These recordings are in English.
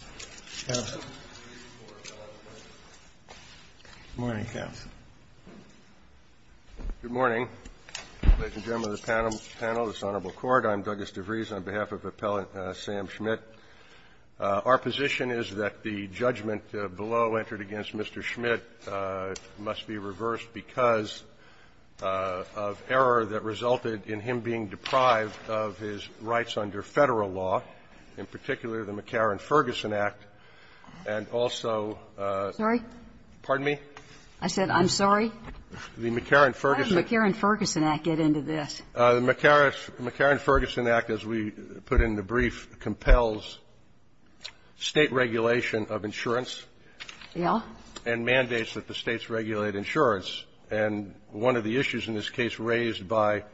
Good morning, ladies and gentlemen of the panel, this Honorable Court. I'm Douglas DeVries, on behalf of Appellant Sam Schmidt. Our position is that the judgment below, entered against Mr. Schmidt, must be reversed because of error that resulted in him being deprived of his rights under Federal law, in particular, the McCarran-Ferguson Act, and also the McCarran-Ferguson Act, as we put in the brief, compels State regulation of insurance and mandates that the States regulate insurance. And one of the issues in this case raised by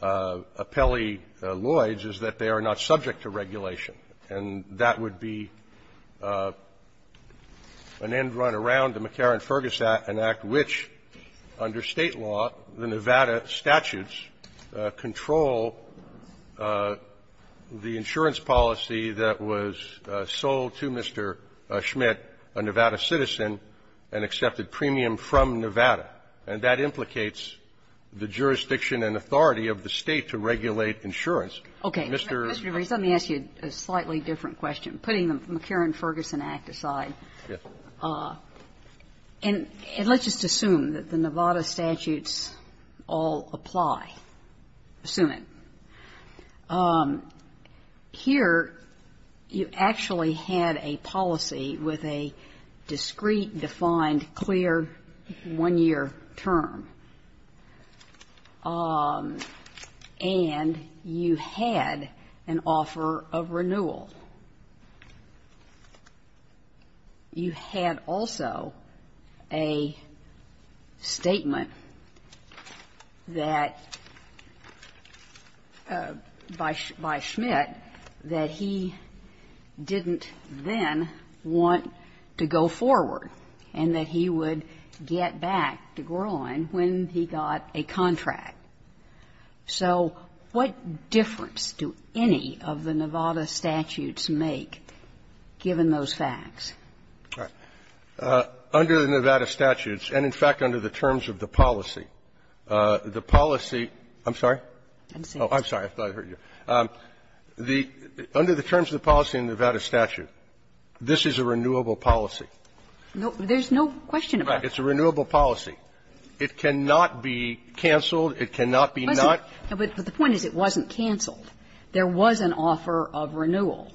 Appellee Lloyds is that they are not subject to regulation. And that would be an end-run around the McCarran-Ferguson Act, an act which, under State law, the Nevada statutes control the insurance policy that was sold to Mr. Schmidt, a Nevada citizen, and accepted premium from Nevada. And that implicates the jurisdiction and authority of the State to regulate insurance. Kagan. Kagan. Kagan. DeVries, let me ask you a slightly different question, putting the McCarran-Ferguson Act aside. And let's just assume that the Nevada statutes all apply. Assume it. Here, term. And you had an offer of renewal. You had also a statement that by Schmidt that he didn't then want to go forward, and that he would get back to the state to grow on when he got a contract. So what difference do any of the Nevada statutes make, given those facts? Under the Nevada statutes, and, in fact, under the terms of the policy, the policy – I'm sorry? I'm sorry. Oh, I'm sorry. I thought I heard you. The – under the terms of the policy in the Nevada statute, this is a renewable policy. There's no question about that. It's a renewable policy. It cannot be canceled. It cannot be not. But the point is, it wasn't canceled. There was an offer of renewal.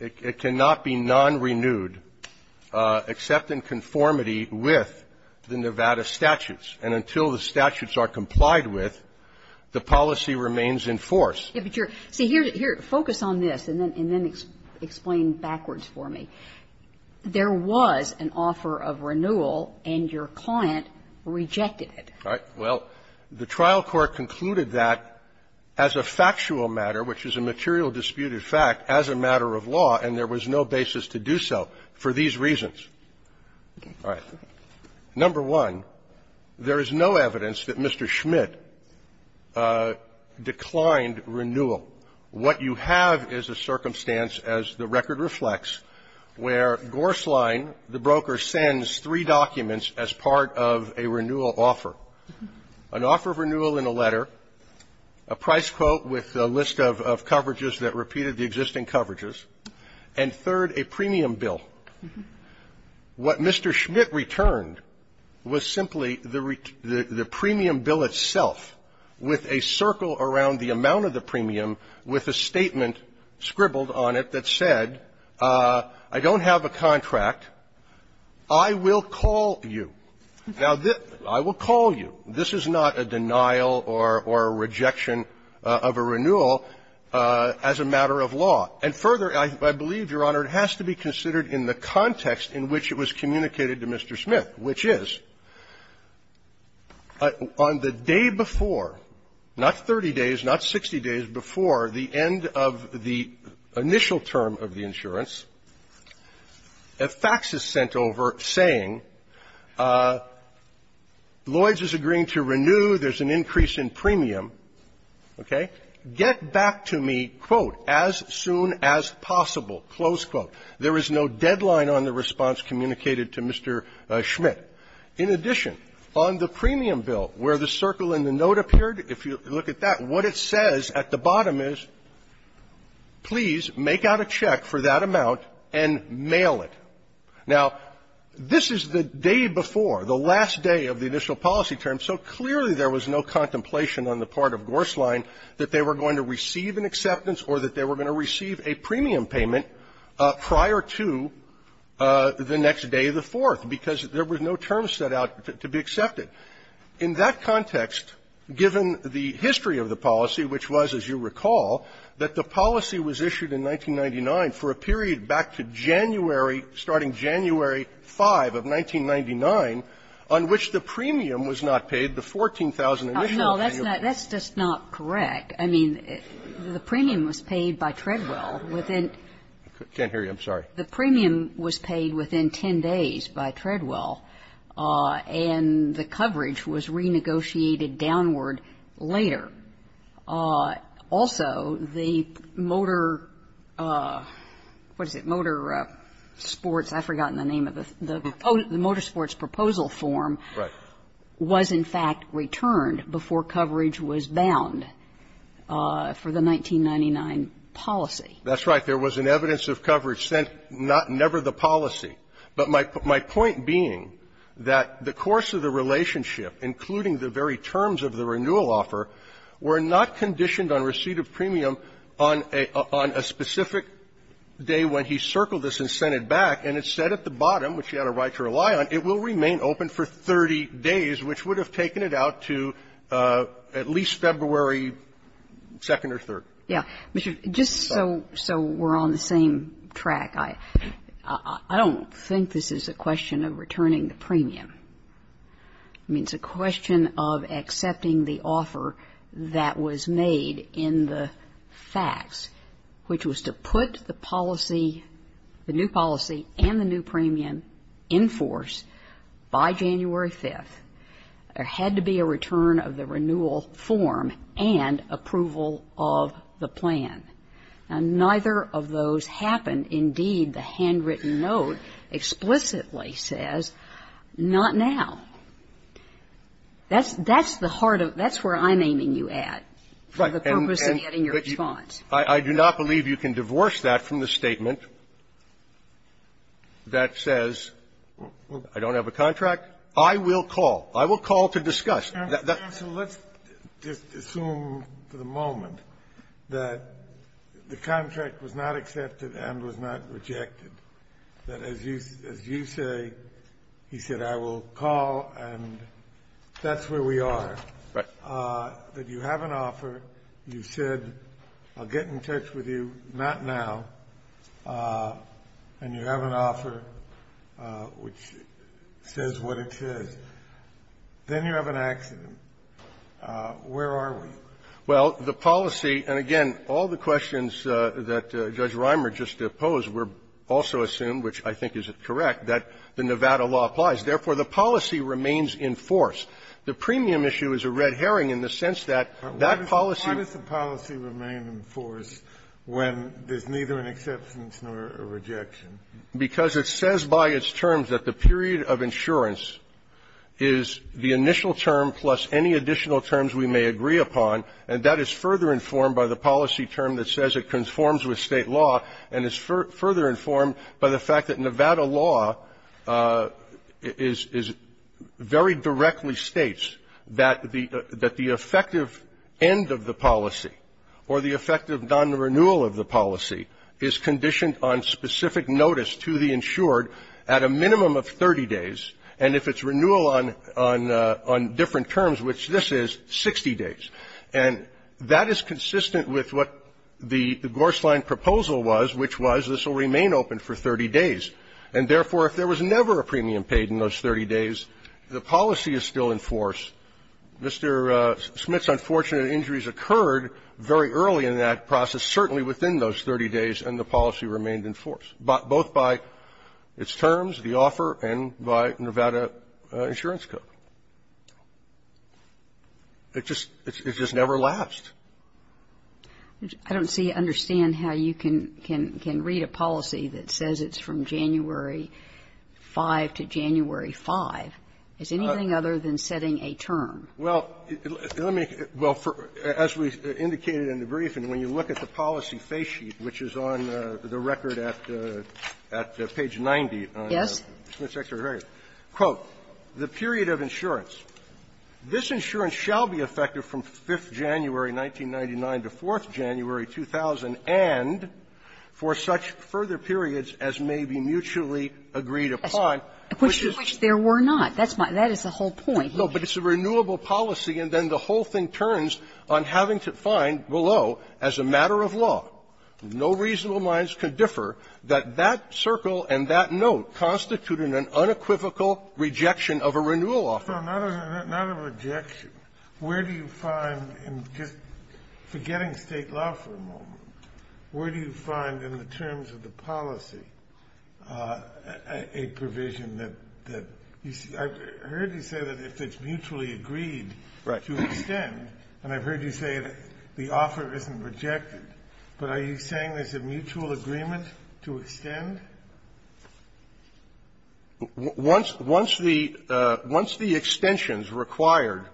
It cannot be non-renewed except in conformity with the Nevada statutes. And until the statutes are complied with, the policy remains in force. But you're – see, here, focus on this, and then explain backwards for me. There was an offer of renewal, and your client rejected it. All right. Well, the trial court concluded that as a factual matter, which is a material disputed fact, as a matter of law, and there was no basis to do so, for these reasons. All right. Number one, there is no evidence that Mr. Schmidt declined renewal. What you have is a circumstance, as the record reflects, where Gorslein, the broker, sends three documents as part of a renewal offer. An offer of renewal in a letter, a price quote with a list of – of coverages that repeated the existing coverages, and third, a premium bill. What Mr. Schmidt returned was simply the – the premium bill itself with a circle around the amount of the premium with a statement scribbled on it that said, I don't have a contract. I will call you. Now, this – I will call you. This is not a denial or – or a rejection of a renewal as a matter of law. And further, I – I believe, Your Honor, it has to be considered in the context in which it was not 60 days before the end of the initial term of the insurance, a fax is sent over saying, Lloyd's is agreeing to renew, there's an increase in premium, okay? Get back to me, quote, as soon as possible, close quote. There is no deadline on the response communicated to Mr. Schmidt. In addition, on the premium bill, where the circle in the note appeared, if you look at that, what it says at the bottom is, please make out a check for that amount and mail it. Now, this is the day before, the last day of the initial policy term, so clearly there was no contemplation on the part of Gors' line that they were going to receive an acceptance or that they were going to receive a premium payment prior to the next day of the fourth, because there were no terms set out to be accepted. In that context, given the history of the policy, which was, as you recall, that the policy was issued in 1999 for a period back to January, starting January 5 of 1999, on which the premium was not paid, the 14,000 initial premium. That's just not correct. I mean, the premium was paid by Treadwell within 10 days by Treadwell, and the coverage was renegotiated downward later. Also, the motor, what is it, motor sports, I've forgotten the name of it, the motor sports proposal form was, in fact, returned before coverage was bound for the 1999 policy. That's right. There was an evidence of coverage sent, not never the policy. But my point being that the course of the relationship, including the very terms of the renewal offer, were not conditioned on receipt of premium on a specific day when he circled this and sent it back. And it said at the bottom, which he had a right to rely on, it will remain open for 30 days, which would have taken it out to at least February 2nd or 3rd. Yeah. Just so we're on the same track, I don't think this is a question of returning the premium. I mean, it's a question of accepting the offer that was made in the facts, which was to put the policy, the new policy and the new premium in force by January 5th. There had to be a return of the renewal form and approval of the plan. And neither of those happened. Indeed, the handwritten note explicitly says not now. That's the heart of the question. That's where I'm aiming you at, for the purpose of getting your response. I do not believe you can divorce that from the statement that says, I don't have a contract. I will call. I will call to discuss. That's the point. Sotomayor, let's just assume for the moment that the contract was not accepted and was not rejected, that as you say, he said, I will call and that's where we are. Right. That you have an offer. You said, I'll get in touch with you, not now. And you have an offer which says what it says. Then you have an accident. Where are we? Well, the policy and, again, all the questions that Judge Reimer just posed were also assumed, which I think is correct, that the Nevada law applies. Therefore, the policy remains in force. The premium issue is a red herring in the sense that that policy --- It's an acceptance, not a rejection. Because it says by its terms that the period of insurance is the initial term plus any additional terms we may agree upon, and that is further informed by the policy term that says it conforms with State law, and is further informed by the fact that Nevada law is very directly states that the effective end of the policy, or the effective end on the renewal of the policy, is conditioned on specific notice to the insured at a minimum of 30 days, and if it's renewal on different terms, which this is, 60 days. And that is consistent with what the Gors' line proposal was, which was this will remain open for 30 days. And, therefore, if there was never a premium paid in those 30 days, the policy is still in force. Mr. Smith's unfortunate injuries occurred very early in that process, certainly within those 30 days, and the policy remained in force, both by its terms, the offer, and by Nevada insurance code. It just never lasts. I don't see or understand how you can read a policy that says it's from January 5 to January 5. Is anything other than setting a term? Well, let me go for as we indicated in the brief, and when you look at the policy face sheet, which is on the record at page 90 on the Smith's exterior record, quote, the period of insurance, this insurance shall be effective from 5th January 1999 to 4th January 2000, and for such further periods as may be mutually agreed upon. Which there were not. That is the whole point. No, but it's a renewable policy, and then the whole thing turns on having to find below, as a matter of law, no reasonable minds could differ, that that circle and that note constitute an unequivocal rejection of a renewal offer. No, not a rejection. Where do you find in just forgetting State law for a moment, where do you find in the provision that you see? I've heard you say that if it's mutually agreed to extend, and I've heard you say that the offer isn't rejected, but are you saying there's a mutual agreement to extend? Once the extensions required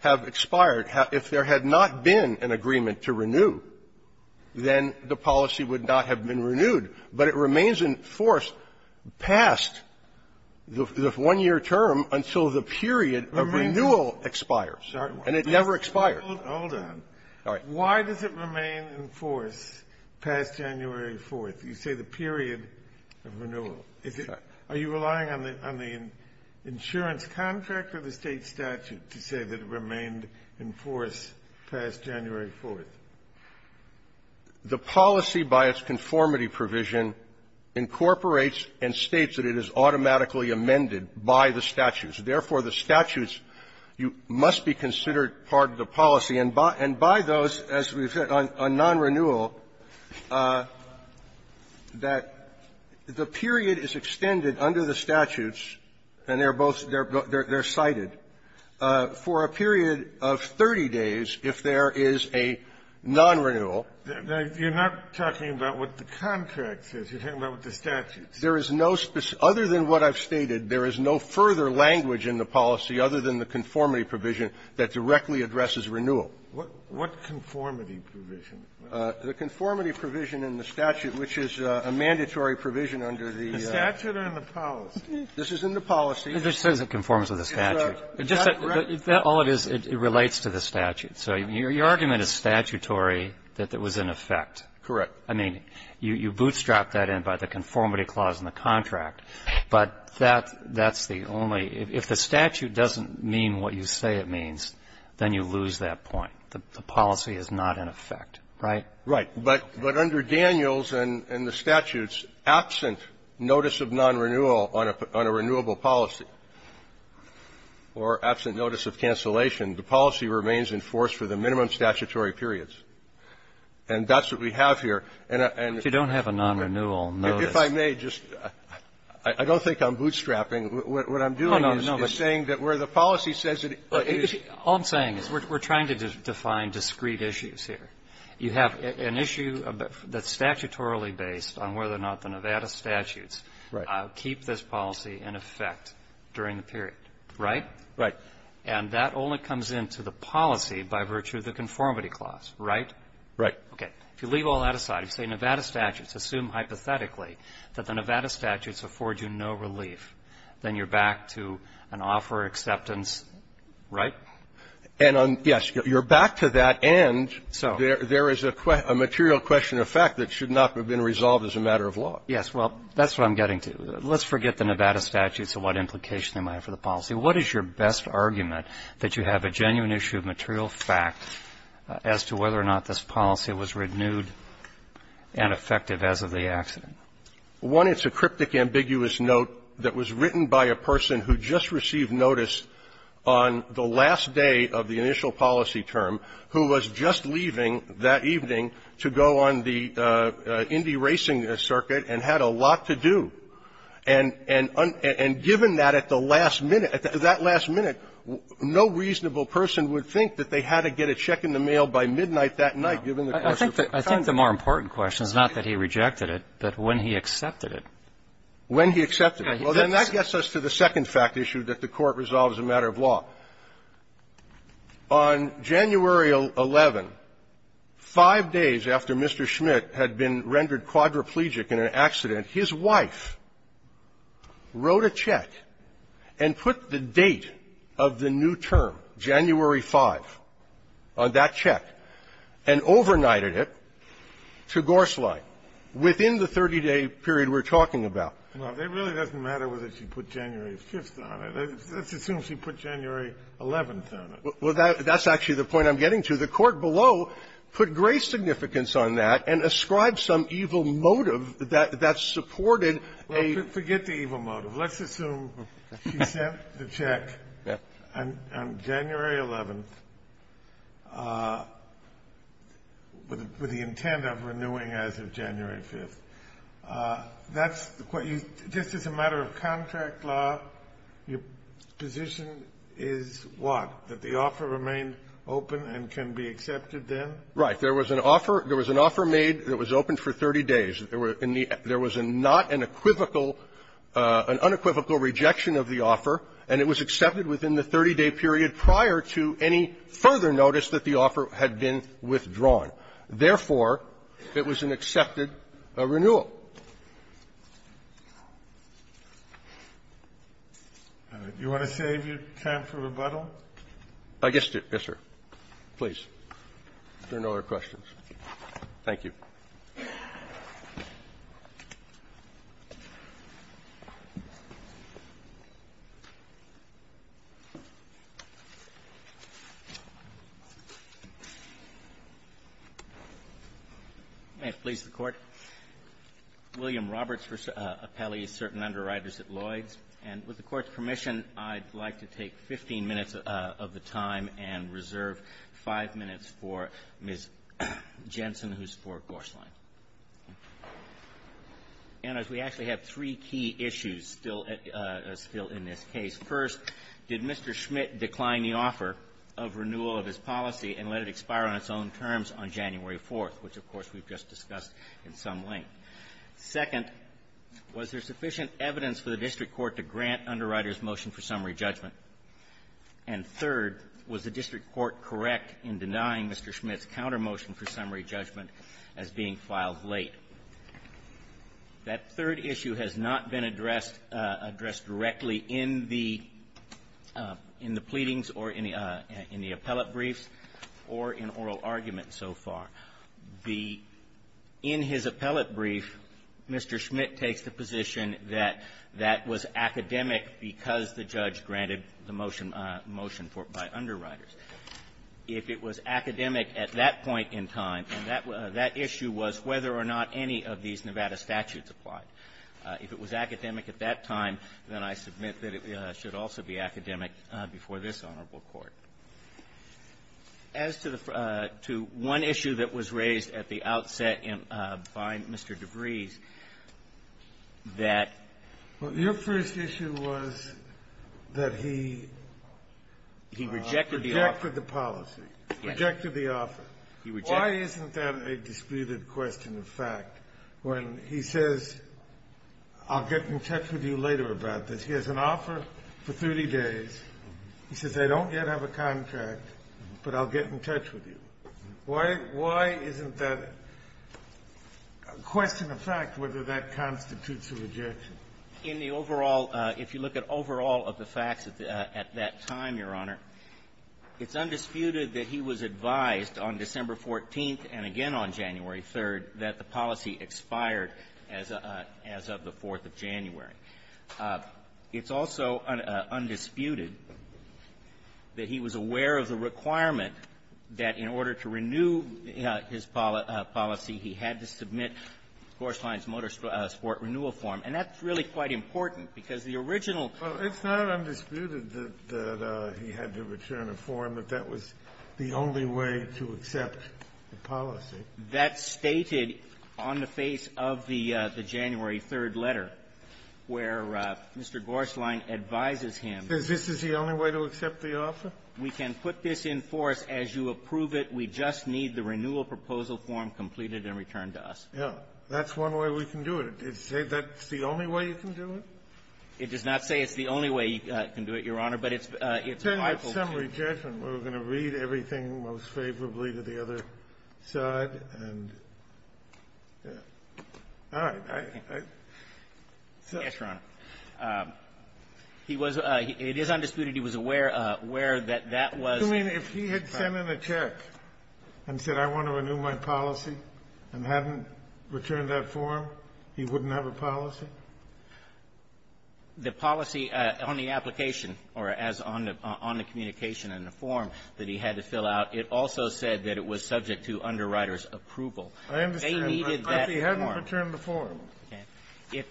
have expired, if there had not been an agreement to renew, then the policy would not have been renewed, but it remains in force past the one-year term until the period of renewal expires. And it never expires. Hold on. All right. Why does it remain in force past January 4th? You say the period of renewal. Is it – are you relying on the insurance contract or the State statute to say that it remained in force past January 4th? The policy, by its conformity provision, incorporates and states that it is automatically amended by the statutes. Therefore, the statutes must be considered part of the policy. And by those, as we've said, on nonrenewal, that the period is extended under the statutes, and they're both – they're cited. For a period of 30 days, if there is a nonrenewal… You're not talking about what the contract says. You're talking about what the statute says. There is no – other than what I've stated, there is no further language in the policy other than the conformity provision that directly addresses renewal. What conformity provision? The conformity provision in the statute, which is a mandatory provision under the… The statute or in the policy? This is in the policy. This is in conformance with the statute. Is that correct? All it is, it relates to the statute. So your argument is statutory that it was in effect. Correct. I mean, you bootstrap that in by the conformity clause in the contract, but that's the only – if the statute doesn't mean what you say it means, then you lose that point. The policy is not in effect, right? Right. But under Daniels and the statutes, absent notice of nonrenewal on a renewable policy, or absent notice of cancellation, the policy remains in force for the minimum statutory periods. And that's what we have here. And I – and the – If you don't have a nonrenewal notice. If I may, just – I don't think I'm bootstrapping. What I'm doing is saying that where the policy says it is – All I'm saying is we're trying to define discrete issues here. You have an issue that's statutorily based on whether or not the Nevada statutes keep this policy in effect during the period, right? Right. And that only comes into the policy by virtue of the conformity clause, right? Right. Okay. If you leave all that aside, if you say Nevada statutes assume hypothetically that the Nevada statutes afford you no relief, then you're back to an offer acceptance, right? And on – yes. You're back to that, and there is a material question of fact that should not have been resolved as a matter of law. Yes. Well, that's what I'm getting to. Let's forget the Nevada statutes and what implication they might have for the policy. What is your best argument that you have a genuine issue of material fact as to whether or not this policy was renewed and effective as of the accident? One, it's a cryptic, ambiguous note that was written by a person who just received notice on the last day of the initial policy term who was just leaving that evening to go on the Indy racing circuit and had a lot to do. And – and given that at the last minute, at that last minute, no reasonable person would think that they had to get a check in the mail by midnight that night given the course of time. I think the more important question is not that he rejected it, but when he accepted it. When he accepted it. Well, then that gets us to the second fact issue that the Court resolves as a matter of law. On January 11, five days after Mr. Schmidt had been rendered quadriplegic in an accident, his wife wrote a check and put the date of the new term, January 5, on that check, and overnighted it to Gorslein within the 30-day period we're talking about. Well, it really doesn't matter whether she put January 5th on it. Let's assume she put January 11th on it. Well, that's actually the point I'm getting to. The Court below put great significance on that and ascribed some evil motive that that supported a — Well, forget the evil motive. Let's assume she sent the check on January 11th with the intent of renewing as of January 5th. That's what you — just as a matter of contract law, your position is what? That the offer remained open and can be accepted then? Right. There was an offer. There was an offer made that was open for 30 days. There was not an equivocal — an unequivocal rejection of the offer, and it was accepted within the 30-day period prior to any further notice that the offer had been withdrawn. Therefore, it was an accepted renewal. Do you want to save your time for rebuttal? Yes, sir. Please. If there are no other questions. Thank you. May it please the Court. William Roberts appellees certain underwriters at Lloyd's. And with the Court's permission, I'd like to take 15 minutes of the time and reserve five minutes for Ms. Jensen, who's for Gorsline. And as we actually have three key issues still at — still in this case. First, did Mr. Schmitt decline the offer of renewal of his policy and let it expire on its own terms on January 4th, which, of course, we've just discussed in some length? Second, was there sufficient evidence for the district court to grant underwriters motion for summary judgment? And third, was the district court correct in denying Mr. Schmitt's countermotion for summary judgment as being filed late? That third issue has not been addressed — addressed directly in the — in the pleadings or in the appellate briefs or in oral arguments so far. The — in his appellate brief, Mr. Schmitt takes the position that that was academic because the judge granted the motion — motion for — by underwriters. If it was academic at that point in time, and that — that issue was whether or not any of these Nevada statutes applied. If it was academic at that time, then I submit that it should also be academic before this honorable Court. As to the — to one issue that was raised at the outset by Mr. DeVries, that — that was that he — He rejected the offer. Rejected the policy. Rejected the offer. He rejected the offer. Why isn't that a disputed question of fact, when he says, I'll get in touch with you later about this? He has an offer for 30 days. He says, I don't yet have a contract, but I'll get in touch with you. Why — why isn't that a question of fact, whether that constitutes a rejection? In the overall — if you look at overall of the facts at that time, Your Honor, it's undisputed that he was advised on December 14th and again on January 3rd that the policy expired as of the 4th of January. It's also undisputed that he was aware of the requirement that in order to renew his policy, he had to submit Coruscant's Motorsport Renewal Form. And that's really quite important, because the original — Well, it's not undisputed that he had to return a form, that that was the only way to accept the policy. That's stated on the face of the — the January 3rd letter, where Mr. Gorslein advises him — That this is the only way to accept the offer? We can put this in force as you approve it. We just need the renewal proposal form completed and returned to us. Yeah. That's one way we can do it. Does it say that's the only way you can do it? It does not say it's the only way you can do it, Your Honor, but it's a — Then it's summary judgment. We're going to read everything most favorably to the other side, and — all right. I — Yes, Your Honor. He was — it is undisputed he was aware — aware that that was — You mean if he had sent in a check and said, I want to renew my policy, and hadn't returned that form, he wouldn't have a policy? The policy on the application, or as on the — on the communication in the form that he had to fill out, it also said that it was subject to underwriters' approval. I understand. They needed that form. But if he hadn't returned the form. Okay.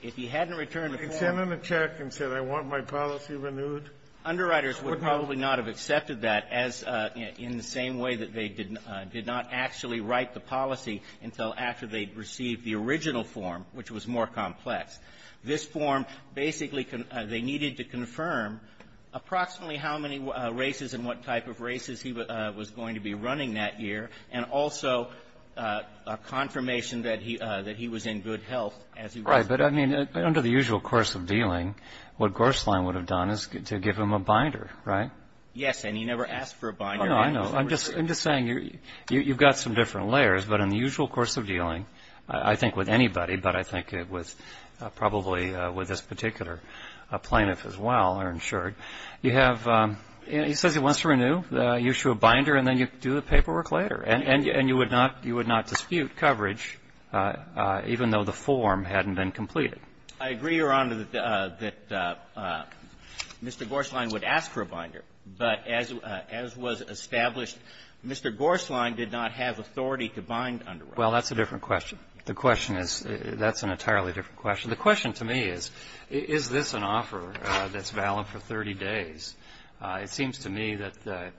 If he hadn't returned the form — If he had sent in a check and said, I want my policy renewed — Underwriters would probably not have accepted that as — in the same way that they did — did not actually write the policy until after they'd received the original form, which was more complex. This form basically — they needed to confirm approximately how many races and what type of races he was going to be running that year, and also a confirmation that he — that he was in good health as he was — Right. But, I mean, under the usual course of dealing, what Gorslein would have done is to give him a binder, right? Yes. And he never asked for a binder. Oh, no, I know. I'm just — I'm just saying you're — you've got some different layers. But in the usual course of dealing, I think with anybody, but I think it was probably with this particular plaintiff as well, or insured, you have — he says he wants to renew. You issue a binder, and then you do the paperwork later. And you would not — you would not dispute coverage, even though the form hadn't been completed. I agree, Your Honor, that Mr. Gorslein would ask for a binder. But as — as was established, Mr. Gorslein did not have authority to bind under it. Well, that's a different question. The question is — that's an entirely different question. The question to me is, is this an offer that's valid for 30 days? It seems to me that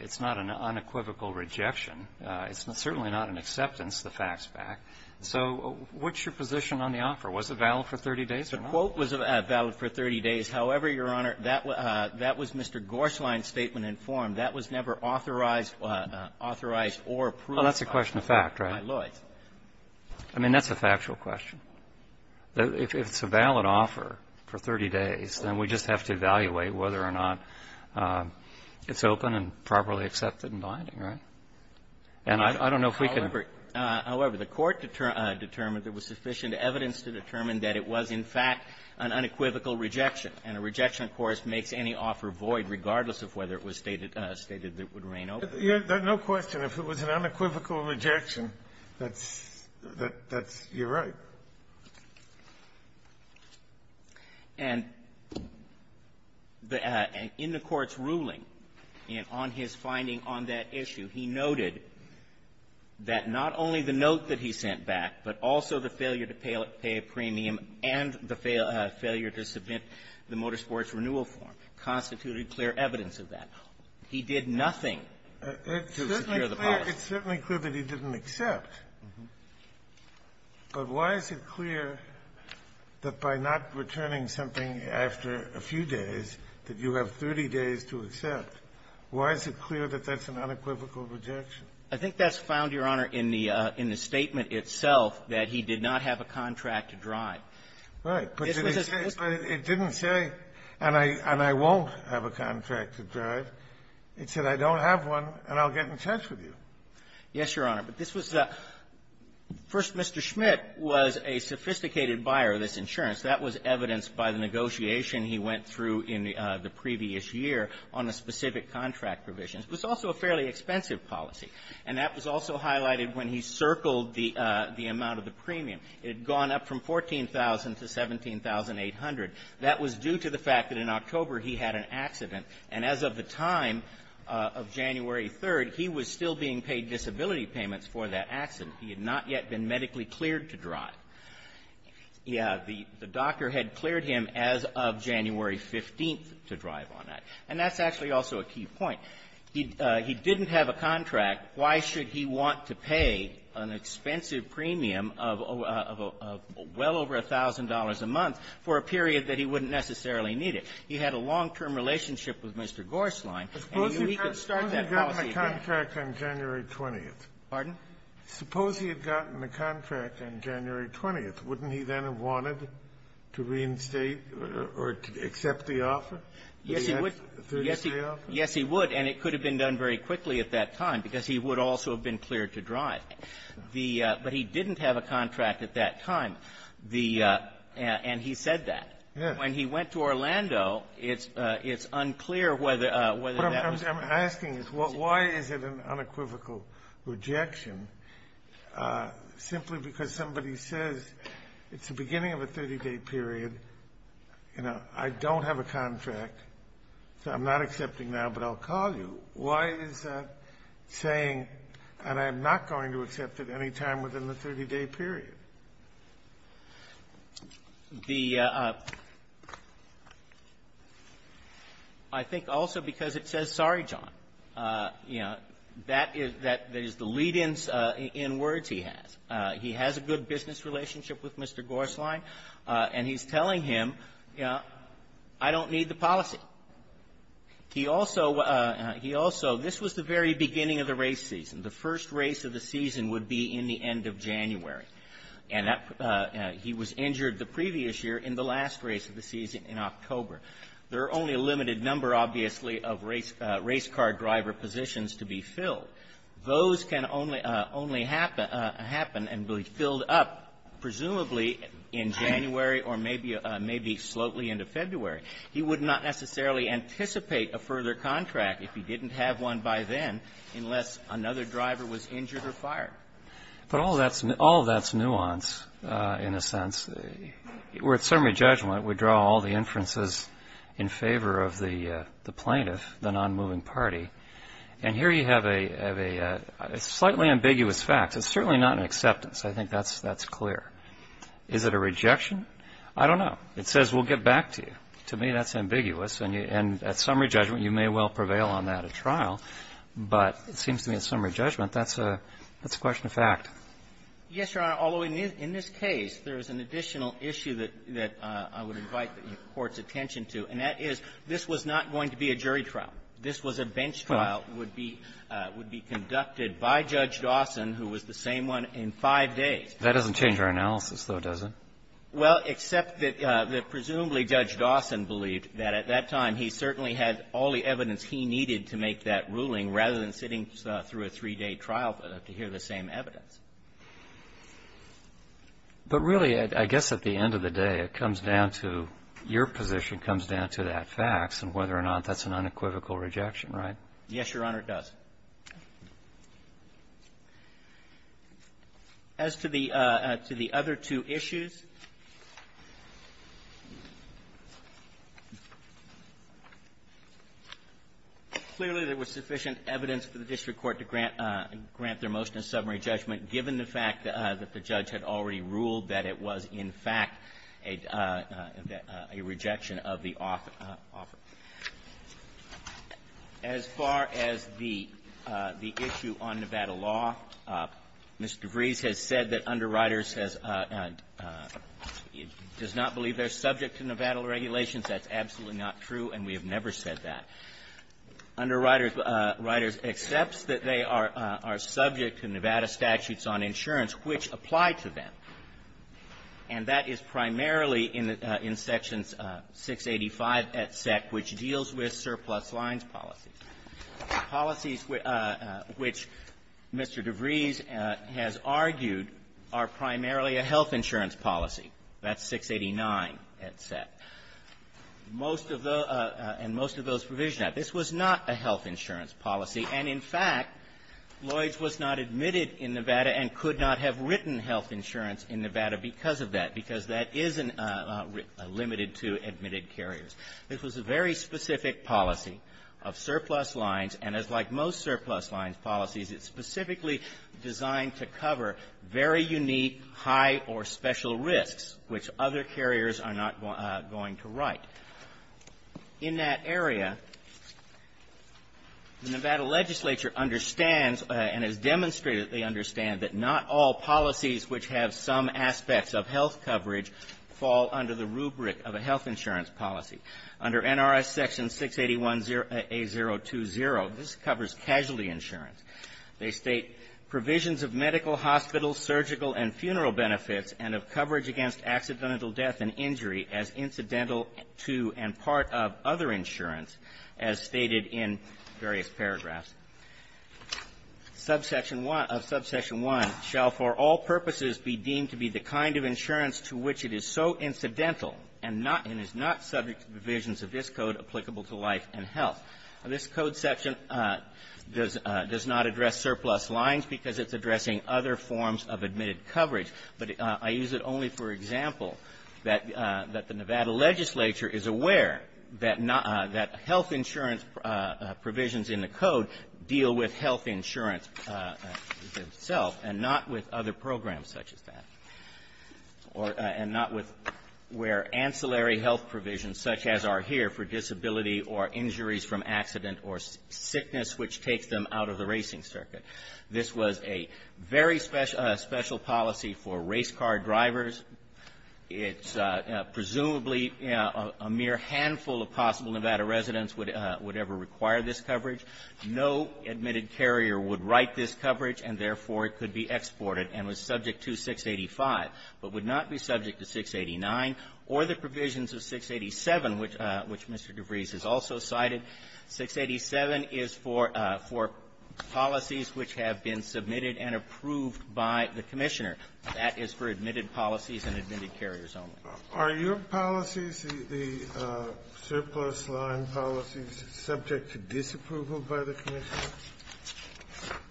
it's not an unequivocal rejection. It's certainly not an acceptance, the fact's fact. So what's your position on the offer? Was it valid for 30 days or not? The quote was valid for 30 days. However, Your Honor, that was — that was Mr. Gorslein's statement in form. That was never authorized — authorized or approved by Lloyd's. Well, that's a question of fact, right? I mean, that's a factual question. If it's a valid offer for 30 days, then we just have to evaluate whether or not it's open and properly accepted in binding, right? And I don't know if we can — However — however, the Court determined there was sufficient evidence to determine that it was, in fact, an unequivocal rejection. And a rejection, of course, makes any offer void, regardless of whether it was stated — stated that it would reign open. There's no question. If it was an unequivocal rejection, that's — that's — you're right. And in the Court's ruling, on his finding on that issue, he noted that not only the failure to submit the Motorsports Renewal Form constituted clear evidence of that. He did nothing to secure the policy. It's certainly clear that he didn't accept. But why is it clear that by not returning something after a few days that you have 30 days to accept? Why is it clear that that's an unequivocal rejection? I think that's found, Your Honor, in the — in the statement itself that he did not have a contract to drive. Right. But it didn't say, and I — and I won't have a contract to drive. It said, I don't have one, and I'll get in touch with you. Yes, Your Honor. But this was — first, Mr. Schmitt was a sophisticated buyer of this insurance. That was evidenced by the negotiation he went through in the previous year on the specific contract provisions. It was also a fairly expensive policy. And that was also highlighted when he circled the amount of the premium. It had gone up from $14,000 to $17,800. That was due to the fact that in October he had an accident. And as of the time of January 3rd, he was still being paid disability payments for that accident. He had not yet been medically cleared to drive. Yeah, the doctor had cleared him as of January 15th to drive on that. And that's actually also a key point. He didn't have a contract. Why should he want to pay an expensive premium of well over $1,000 a month for a period that he wouldn't necessarily need it? He had a long-term relationship with Mr. Gorslein, and he knew he could start that policy again. Suppose he had gotten a contract on January 20th. Pardon? Suppose he had gotten a contract on January 20th. Wouldn't he then have wanted to reinstate or to accept the offer? Yes, he would. Yes, he would. And it could have been done very quickly at that time, because he would also have been cleared to drive. The — but he didn't have a contract at that time. The — and he said that. Yes. When he went to Orlando, it's unclear whether that was the case. What I'm asking is why is it an unequivocal rejection simply because somebody says it's the beginning of a 30-day period, you know, I don't have a contract, so I'm not accepting now, but I'll call you? Why is that saying, and I'm not going to accept it any time within the 30-day period? The — I think also because it says, sorry, John. You know, that is the lead-in in words he has. He has a good business relationship with Mr. Gorslein, and he's telling him, you know, he has a good business relationship with Mr. Gorslein. He also — he also — this was the very beginning of the race season. The first race of the season would be in the end of January. And that — he was injured the previous year in the last race of the season, in October. There are only a limited number, obviously, of race car driver positions to be filled. Those can only — only happen — happen and be filled up presumably in January or maybe — maybe slowly into February. He would not necessarily anticipate a further contract if he didn't have one by then unless another driver was injured or fired. But all of that's — all of that's nuance, in a sense. We're at summary judgment. We draw all the inferences in favor of the plaintiff, the nonmoving party. And here you have a — a slightly ambiguous fact. It's certainly not an acceptance. I think that's — that's clear. Is it a rejection? I don't know. It says, we'll get back to you. To me, that's ambiguous. And you — and at summary judgment, you may well prevail on that at trial. But it seems to me at summary judgment, that's a — that's a question of fact. Yes, Your Honor. Although in this case, there is an additional issue that — that I would invite the Court's attention to, and that is this was not going to be a jury trial. This was a bench trial. It would be — would be conducted by Judge Dawson, who was the same one in five days. That doesn't change our analysis, though, does it? Well, except that — that presumably Judge Dawson believed that at that time, he certainly had all the evidence he needed to make that ruling, rather than sitting through a three-day trial to hear the same evidence. But really, I guess at the end of the day, it comes down to — your position comes down to that facts and whether or not that's an unequivocal rejection, right? Yes, Your Honor, it does. As to the — to the other two issues, clearly, there was sufficient evidence for the district court to grant — grant their motion of summary judgment, given the fact that the judge had already ruled that it was, in fact, a — a rejection of the offer. As far as the — the issue on Nevada law, Mr. Vrees has said that Underwriters has — does not believe they're subject to Nevada regulations. That's absolutely not true, and we have never said that. Underwriters accepts that they are — are subject to Nevada statutes on insurance, which apply to them. And that is primarily in the — in Sections 685, etc., which deals with surplus lines policies, policies which Mr. DeVries has argued are primarily a health insurance policy. That's 689, etc. Most of the — and most of those provisions — now, this was not a health insurance policy, and, in fact, Lloyds was not admitted in Nevada and could not have written health insurance in Nevada because of that, because that is a — a limited to admitted carriers. This was a very specific policy of surplus lines, and as like most surplus lines policies, it's specifically designed to cover very unique, high, or special risks, which other carriers are not going to write. In that area, the Nevada legislature understands and has demonstrated that they understand that not all policies which have some aspects of health coverage fall under the rubric of a health insurance policy. Under NRS Section 681A020, this covers casualty insurance. They state provisions of medical, hospital, surgical, and funeral benefits and of coverage against accidental death and injury as incidental to and part of other insurance, as stated in various paragraphs. Subsection 1 — of Subsection 1, shall for all purposes be deemed to be the kind of insurance to which it is so incidental and not — and is not subject to provisions of this Code applicable to life and health. This Code section does — does not address surplus lines because it's addressing other forms of admitted coverage. But I use it only for example, that — that the Nevada legislature is aware that not — that health insurance provisions in the Code deal with health insurance itself and not with other programs such as that, or — and not with where ancillary health provisions such as are here for disability or injuries from accident or sickness which takes them out of the coverage. It's presumably a mere handful of possible Nevada residents would — would ever require this coverage. No admitted carrier would write this coverage, and therefore, it could be exported and was subject to 685, but would not be subject to 689 or the provisions of 687, which — which Mr. DeVries has also cited. 687 is for — for policies which have been submitted and approved by the Commissioner. That is for admitted policies and admitted carriers only. Are your policies, the surplus line policies, subject to disapproval by the Commissioner?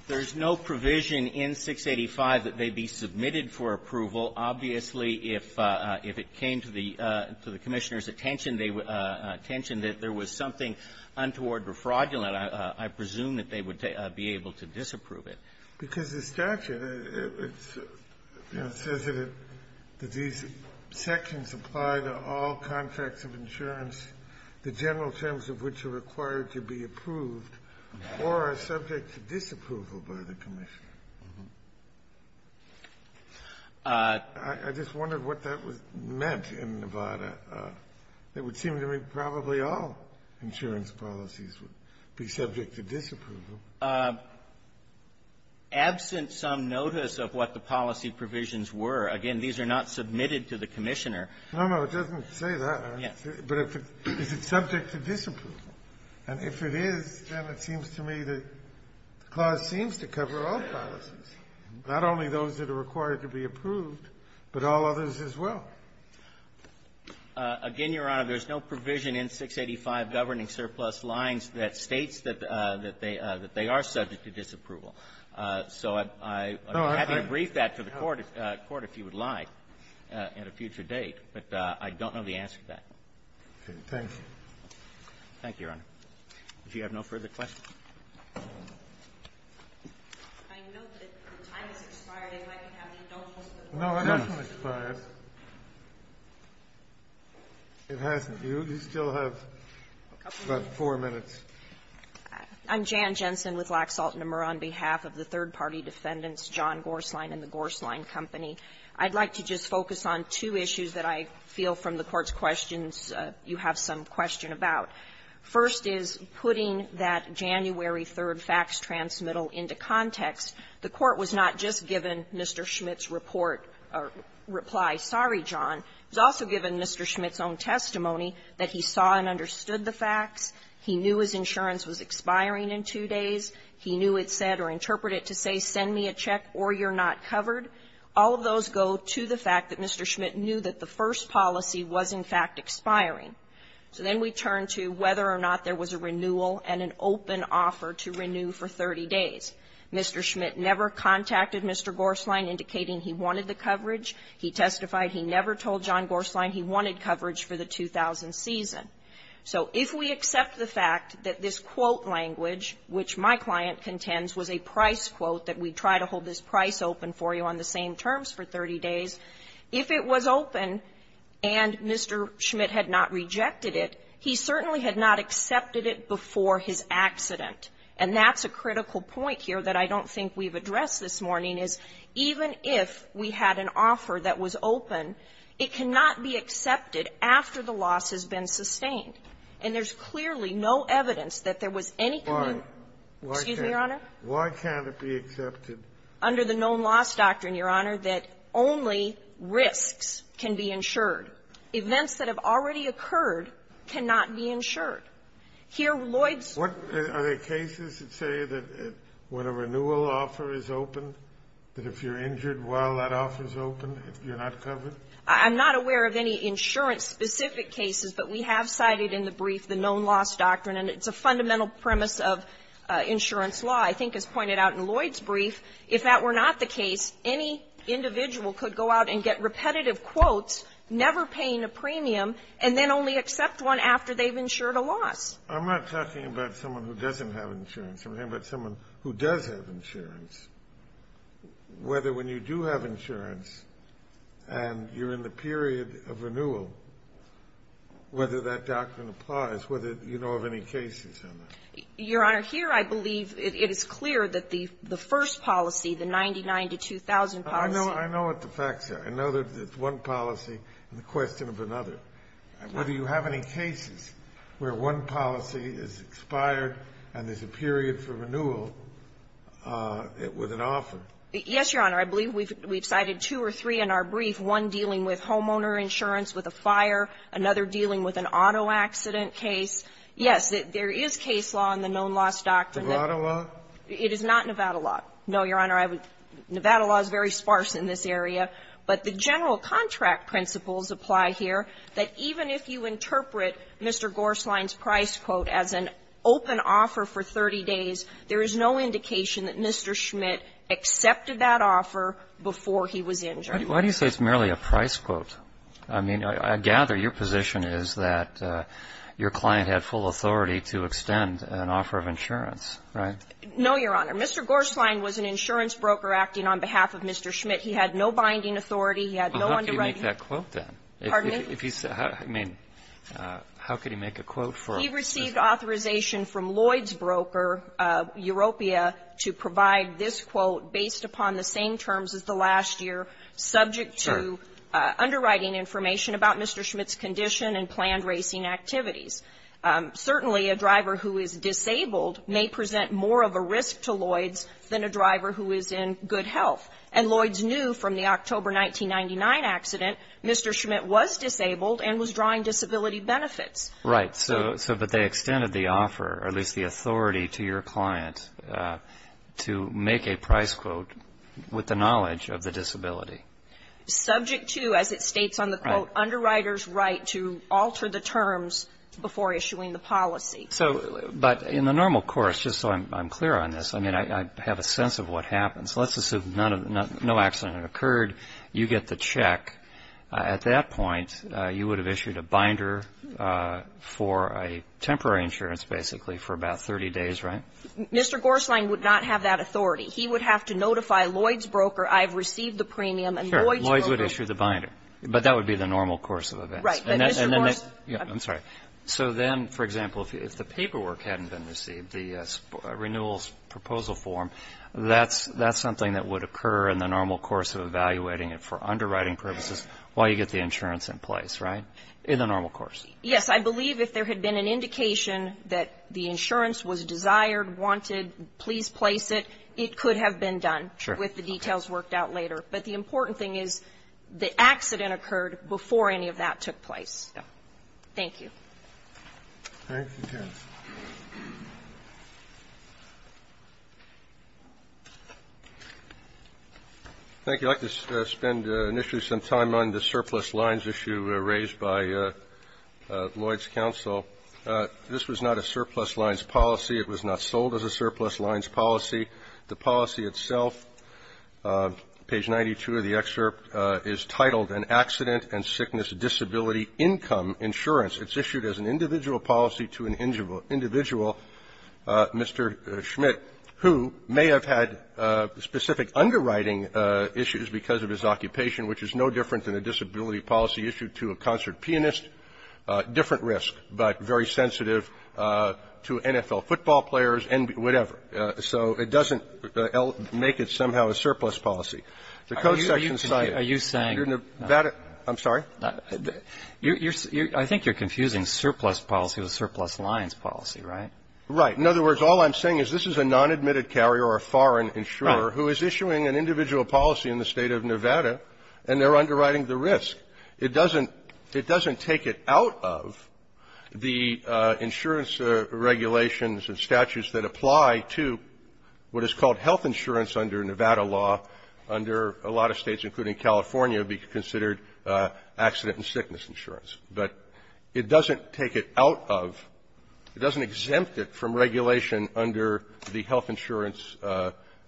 There's no provision in 685 that they be submitted for approval. Obviously, if — if it came to the — to the Commissioner's attention, they — attention that there was something untoward or fraudulent, I — I presume that they would be able to disapprove it. Because the statute, it's — you know, says that it — that these sections apply to all contracts of insurance, the general terms of which are required to be approved or are subject to disapproval by the Commissioner. I just wondered what that was — meant in Nevada. It would seem to me probably all insurance policies would be subject to disapproval. Absent some notice of what the policy provisions were, again, these are not submitted to the Commissioner. No, no. It doesn't say that. Yes. But if it — is it subject to disapproval? And if it is, then it seems to me the other policies, not only those that are required to be approved, but all others as well. Again, Your Honor, there's no provision in 685 governing surplus lines that states that — that they — that they are subject to disapproval. So I would be happy to brief that to the Court — Court if you would like at a future date. But I don't know the answer to that. Okay. Thank you. Thank you, Your Honor. Do you have no further questions? I note that the time has expired. I'd like to have the adults with more questions. No, it hasn't expired. It hasn't. You still have about four minutes. I'm Jan Jensen with Laxalt & Nemer on behalf of the third-party defendants John Gorsline and the Gorsline Company. I'd like to just focus on two issues that I feel from the Court's questions you have some question about. First is putting that January 3rd fax transmittal into context. The Court was not just given Mr. Schmidt's report or reply, sorry, John. It was also given Mr. Schmidt's own testimony that he saw and understood the facts. He knew his insurance was expiring in two days. He knew it said or interpreted to say, send me a check or you're not covered. All of those go to the fact that Mr. Schmidt knew that the first policy was, in fact, expiring. So then we turn to whether or not there was a renewal and an open offer to renew for 30 days. Mr. Schmidt never contacted Mr. Gorsline indicating he wanted the coverage. He testified he never told John Gorsline he wanted coverage for the 2000 season. So if we accept the fact that this quote language, which my client contends was a price quote that we try to hold this price open for you on the same terms for 30 days, if it was open and Mr. Schmidt had not rejected it, he certainly had not accepted it before his accident. And that's a critical point here that I don't think we've addressed this morning, is even if we had an offer that was open, it cannot be accepted after the loss has been sustained. And there's clearly no evidence that there was any commitment. Excuse me, Your Honor. Why can't it be accepted? Under the known loss doctrine, Your Honor, that only risks can be insured. Events that have already occurred cannot be insured. Here, Lloyd's ---- Are there cases that say that when a renewal offer is open, that if you're injured while that offer is open, you're not covered? I'm not aware of any insurance-specific cases, but we have cited in the brief the known loss doctrine. And it's a fundamental premise of insurance law. I think as pointed out in Lloyd's brief, if that were not the case, any individual could go out and get repetitive quotes, never paying a premium, and then only accept one after they've insured a loss. I'm not talking about someone who doesn't have insurance. I'm talking about someone who does have insurance. Whether when you do have insurance and you're in the period of renewal, whether that doctrine applies, whether you know of any cases on that. Your Honor, here I believe it is clear that the first policy, the 99 to 2,000 policy ---- I know what the facts are. I know that it's one policy and the question of another. Whether you have any cases where one policy is expired and there's a period for renewal with an offer. Yes, Your Honor. I believe we've cited two or three in our brief, one dealing with homeowner insurance with a fire, another dealing with an auto accident case. Yes, there is case law in the known loss doctrine that ---- Nevada law? It is not Nevada law. No, Your Honor. I would ---- Nevada law is very sparse in this area. But the general contract principles apply here that even if you interpret Mr. Gorslein's price quote as an open offer for 30 days, there is no indication that Mr. Schmidt accepted that offer before he was injured. Why do you say it's merely a price quote? I mean, I gather your position is that your client had full authority to extend an offer of insurance, right? No, Your Honor. Mr. Gorslein was an insurance broker acting on behalf of Mr. Schmidt. He had no binding authority. He had no underwriting ---- Well, how could he make that quote then? Pardon me? If he's ---- I mean, how could he make a quote for ---- He received authorization from Lloyds Broker, Europia, to provide this quote based upon the same terms as the last year, subject to underwriting information about Mr. Schmidt's condition and planned racing activities. Certainly, a driver who is disabled may present more of a risk to Lloyds than a driver who is in good health. And Lloyds knew from the October 1999 accident Mr. Schmidt was disabled and was drawing disability benefits. Right. So, but they extended the offer, or at least the authority, to your client to make a price quote with the knowledge of the disability. Subject to, as it states on the quote, underwriter's right to alter the terms before issuing the policy. So, but in the normal course, just so I'm clear on this, I mean, I have a sense of what happens. Let's assume no accident occurred. You get the check. At that point, you would have issued a binder for a temporary insurance, basically, for about 30 days, right? Mr. Gorslein would not have that authority. He would have to notify Lloyds Broker, I've received the premium, and Lloyds Broker ---- Sure. Lloyds would issue the binder. But that would be the normal course of events. Right. But Mr. Gorslein ---- I'm sorry. So then, for example, if the paperwork hadn't been received, the renewals proposal form, that's something that would occur in the normal course of evaluating it for underwriting purposes while you get the insurance in place, right? In the normal course. Yes. I believe if there had been an indication that the insurance was desired, wanted, please place it, it could have been done. Sure. With the details worked out later. But the important thing is the accident occurred before any of that took place. Yeah. Thank you. All right. Thank you. Mr. Gorslein. Thank you. I'd like to spend initially some time on the surplus lines issue raised by Lloyds Counsel. This was not a surplus lines policy. It was not sold as a surplus lines policy. The policy itself, page 92 of the excerpt, is titled, An Accident and Sickness Disability Income Insurance. It's issued as an individual policy to an individual, Mr. Schmidt, who may have had specific underwriting issues because of his occupation, which is no different than a disability policy issued to a concert pianist. Different risk, but very sensitive to NFL football players and whatever. So it doesn't make it somehow a surplus policy. The code section cited. Are you saying? I'm sorry? I think you're confusing surplus policy with surplus lines policy, right? Right. In other words, all I'm saying is this is a non-admitted carrier or a foreign insurer who is issuing an individual policy in the State of Nevada, and they're underwriting the risk. It doesn't take it out of the insurance regulations and statutes that apply to what is called health insurance under Nevada law, under a lot of States, including California, be considered accident and sickness insurance. But it doesn't take it out of, it doesn't exempt it from regulation under the health insurance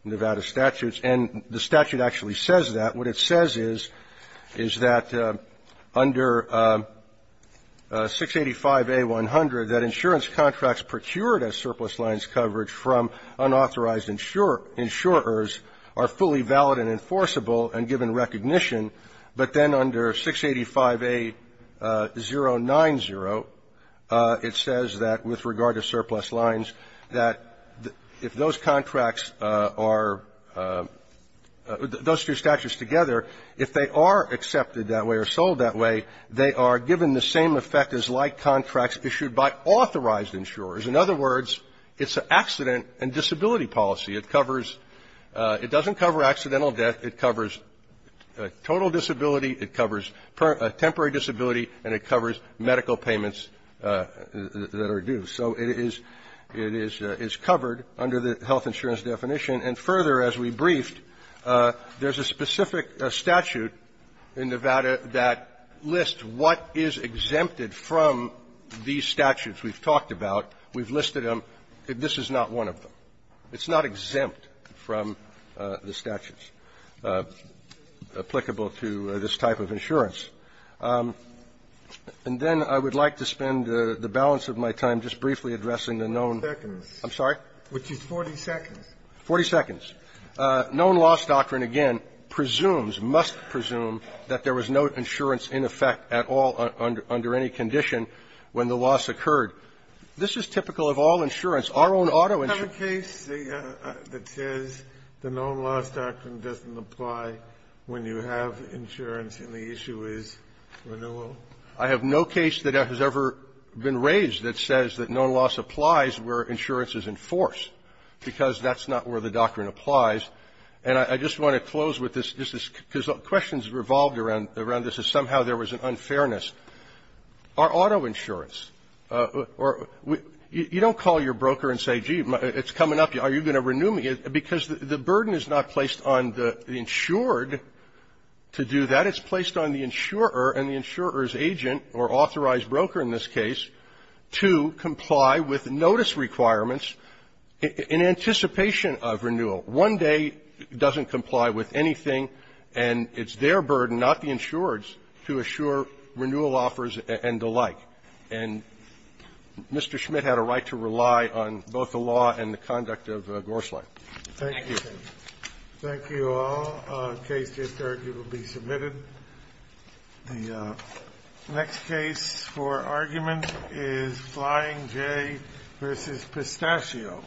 Nevada statutes. And the statute actually says that. What it says is, is that under 685A-100, that insurance contracts procured as surplus lines coverage from unauthorized insurers are fully valid and enforceable and given recognition. But then under 685A-090, it says that with regard to surplus lines, that if those contracts are, those two statutes together, if they are accepted that way or sold that way, they are given the same effect as like contracts issued by authorized insurers. In other words, it's an accident and disability policy. It covers, it doesn't cover accidental death. It covers total disability, it covers temporary disability, and it covers medical payments that are due. So it is, it is covered under the health insurance definition. And further, as we briefed, there's a specific statute in Nevada that lists what is exempted from these statutes we've talked about. We've listed them. This is not one of them. It's not exempt from the statutes applicable to this type of insurance. And then I would like to spend the balance of my time just briefly addressing the known --" Scalia, I'm sorry? Scalia, which is 40 seconds. Forty seconds. Known loss doctrine, again, presumes, must presume that there was no insurance in effect at all under any condition when the loss occurred. This is typical of all insurance. Our own auto insurance --" Have you had a case that says the known loss doctrine doesn't apply when you have insurance and the issue is renewal? I have no case that has ever been raised that says that known loss applies where insurance is in force, because that's not where the doctrine applies. And I just want to close with this. This is because questions revolved around this, that somehow there was an unfairness. Our auto insurance, you don't call your broker and say, gee, it's coming up. Are you going to renew me? Because the burden is not placed on the insured to do that. It's placed on the insurer and the insurer's agent or authorized broker in this case to comply with notice requirements in anticipation of renewal. One day doesn't comply with anything, and it's their burden, not the insured's, to assure renewal offers and the like. And Mr. Schmidt had a right to rely on both the law and the conduct of Gorslang. Thank you. Thank you. Thank you all. Case J3 will be submitted. The next case for argument is Flying J v. Pistachio.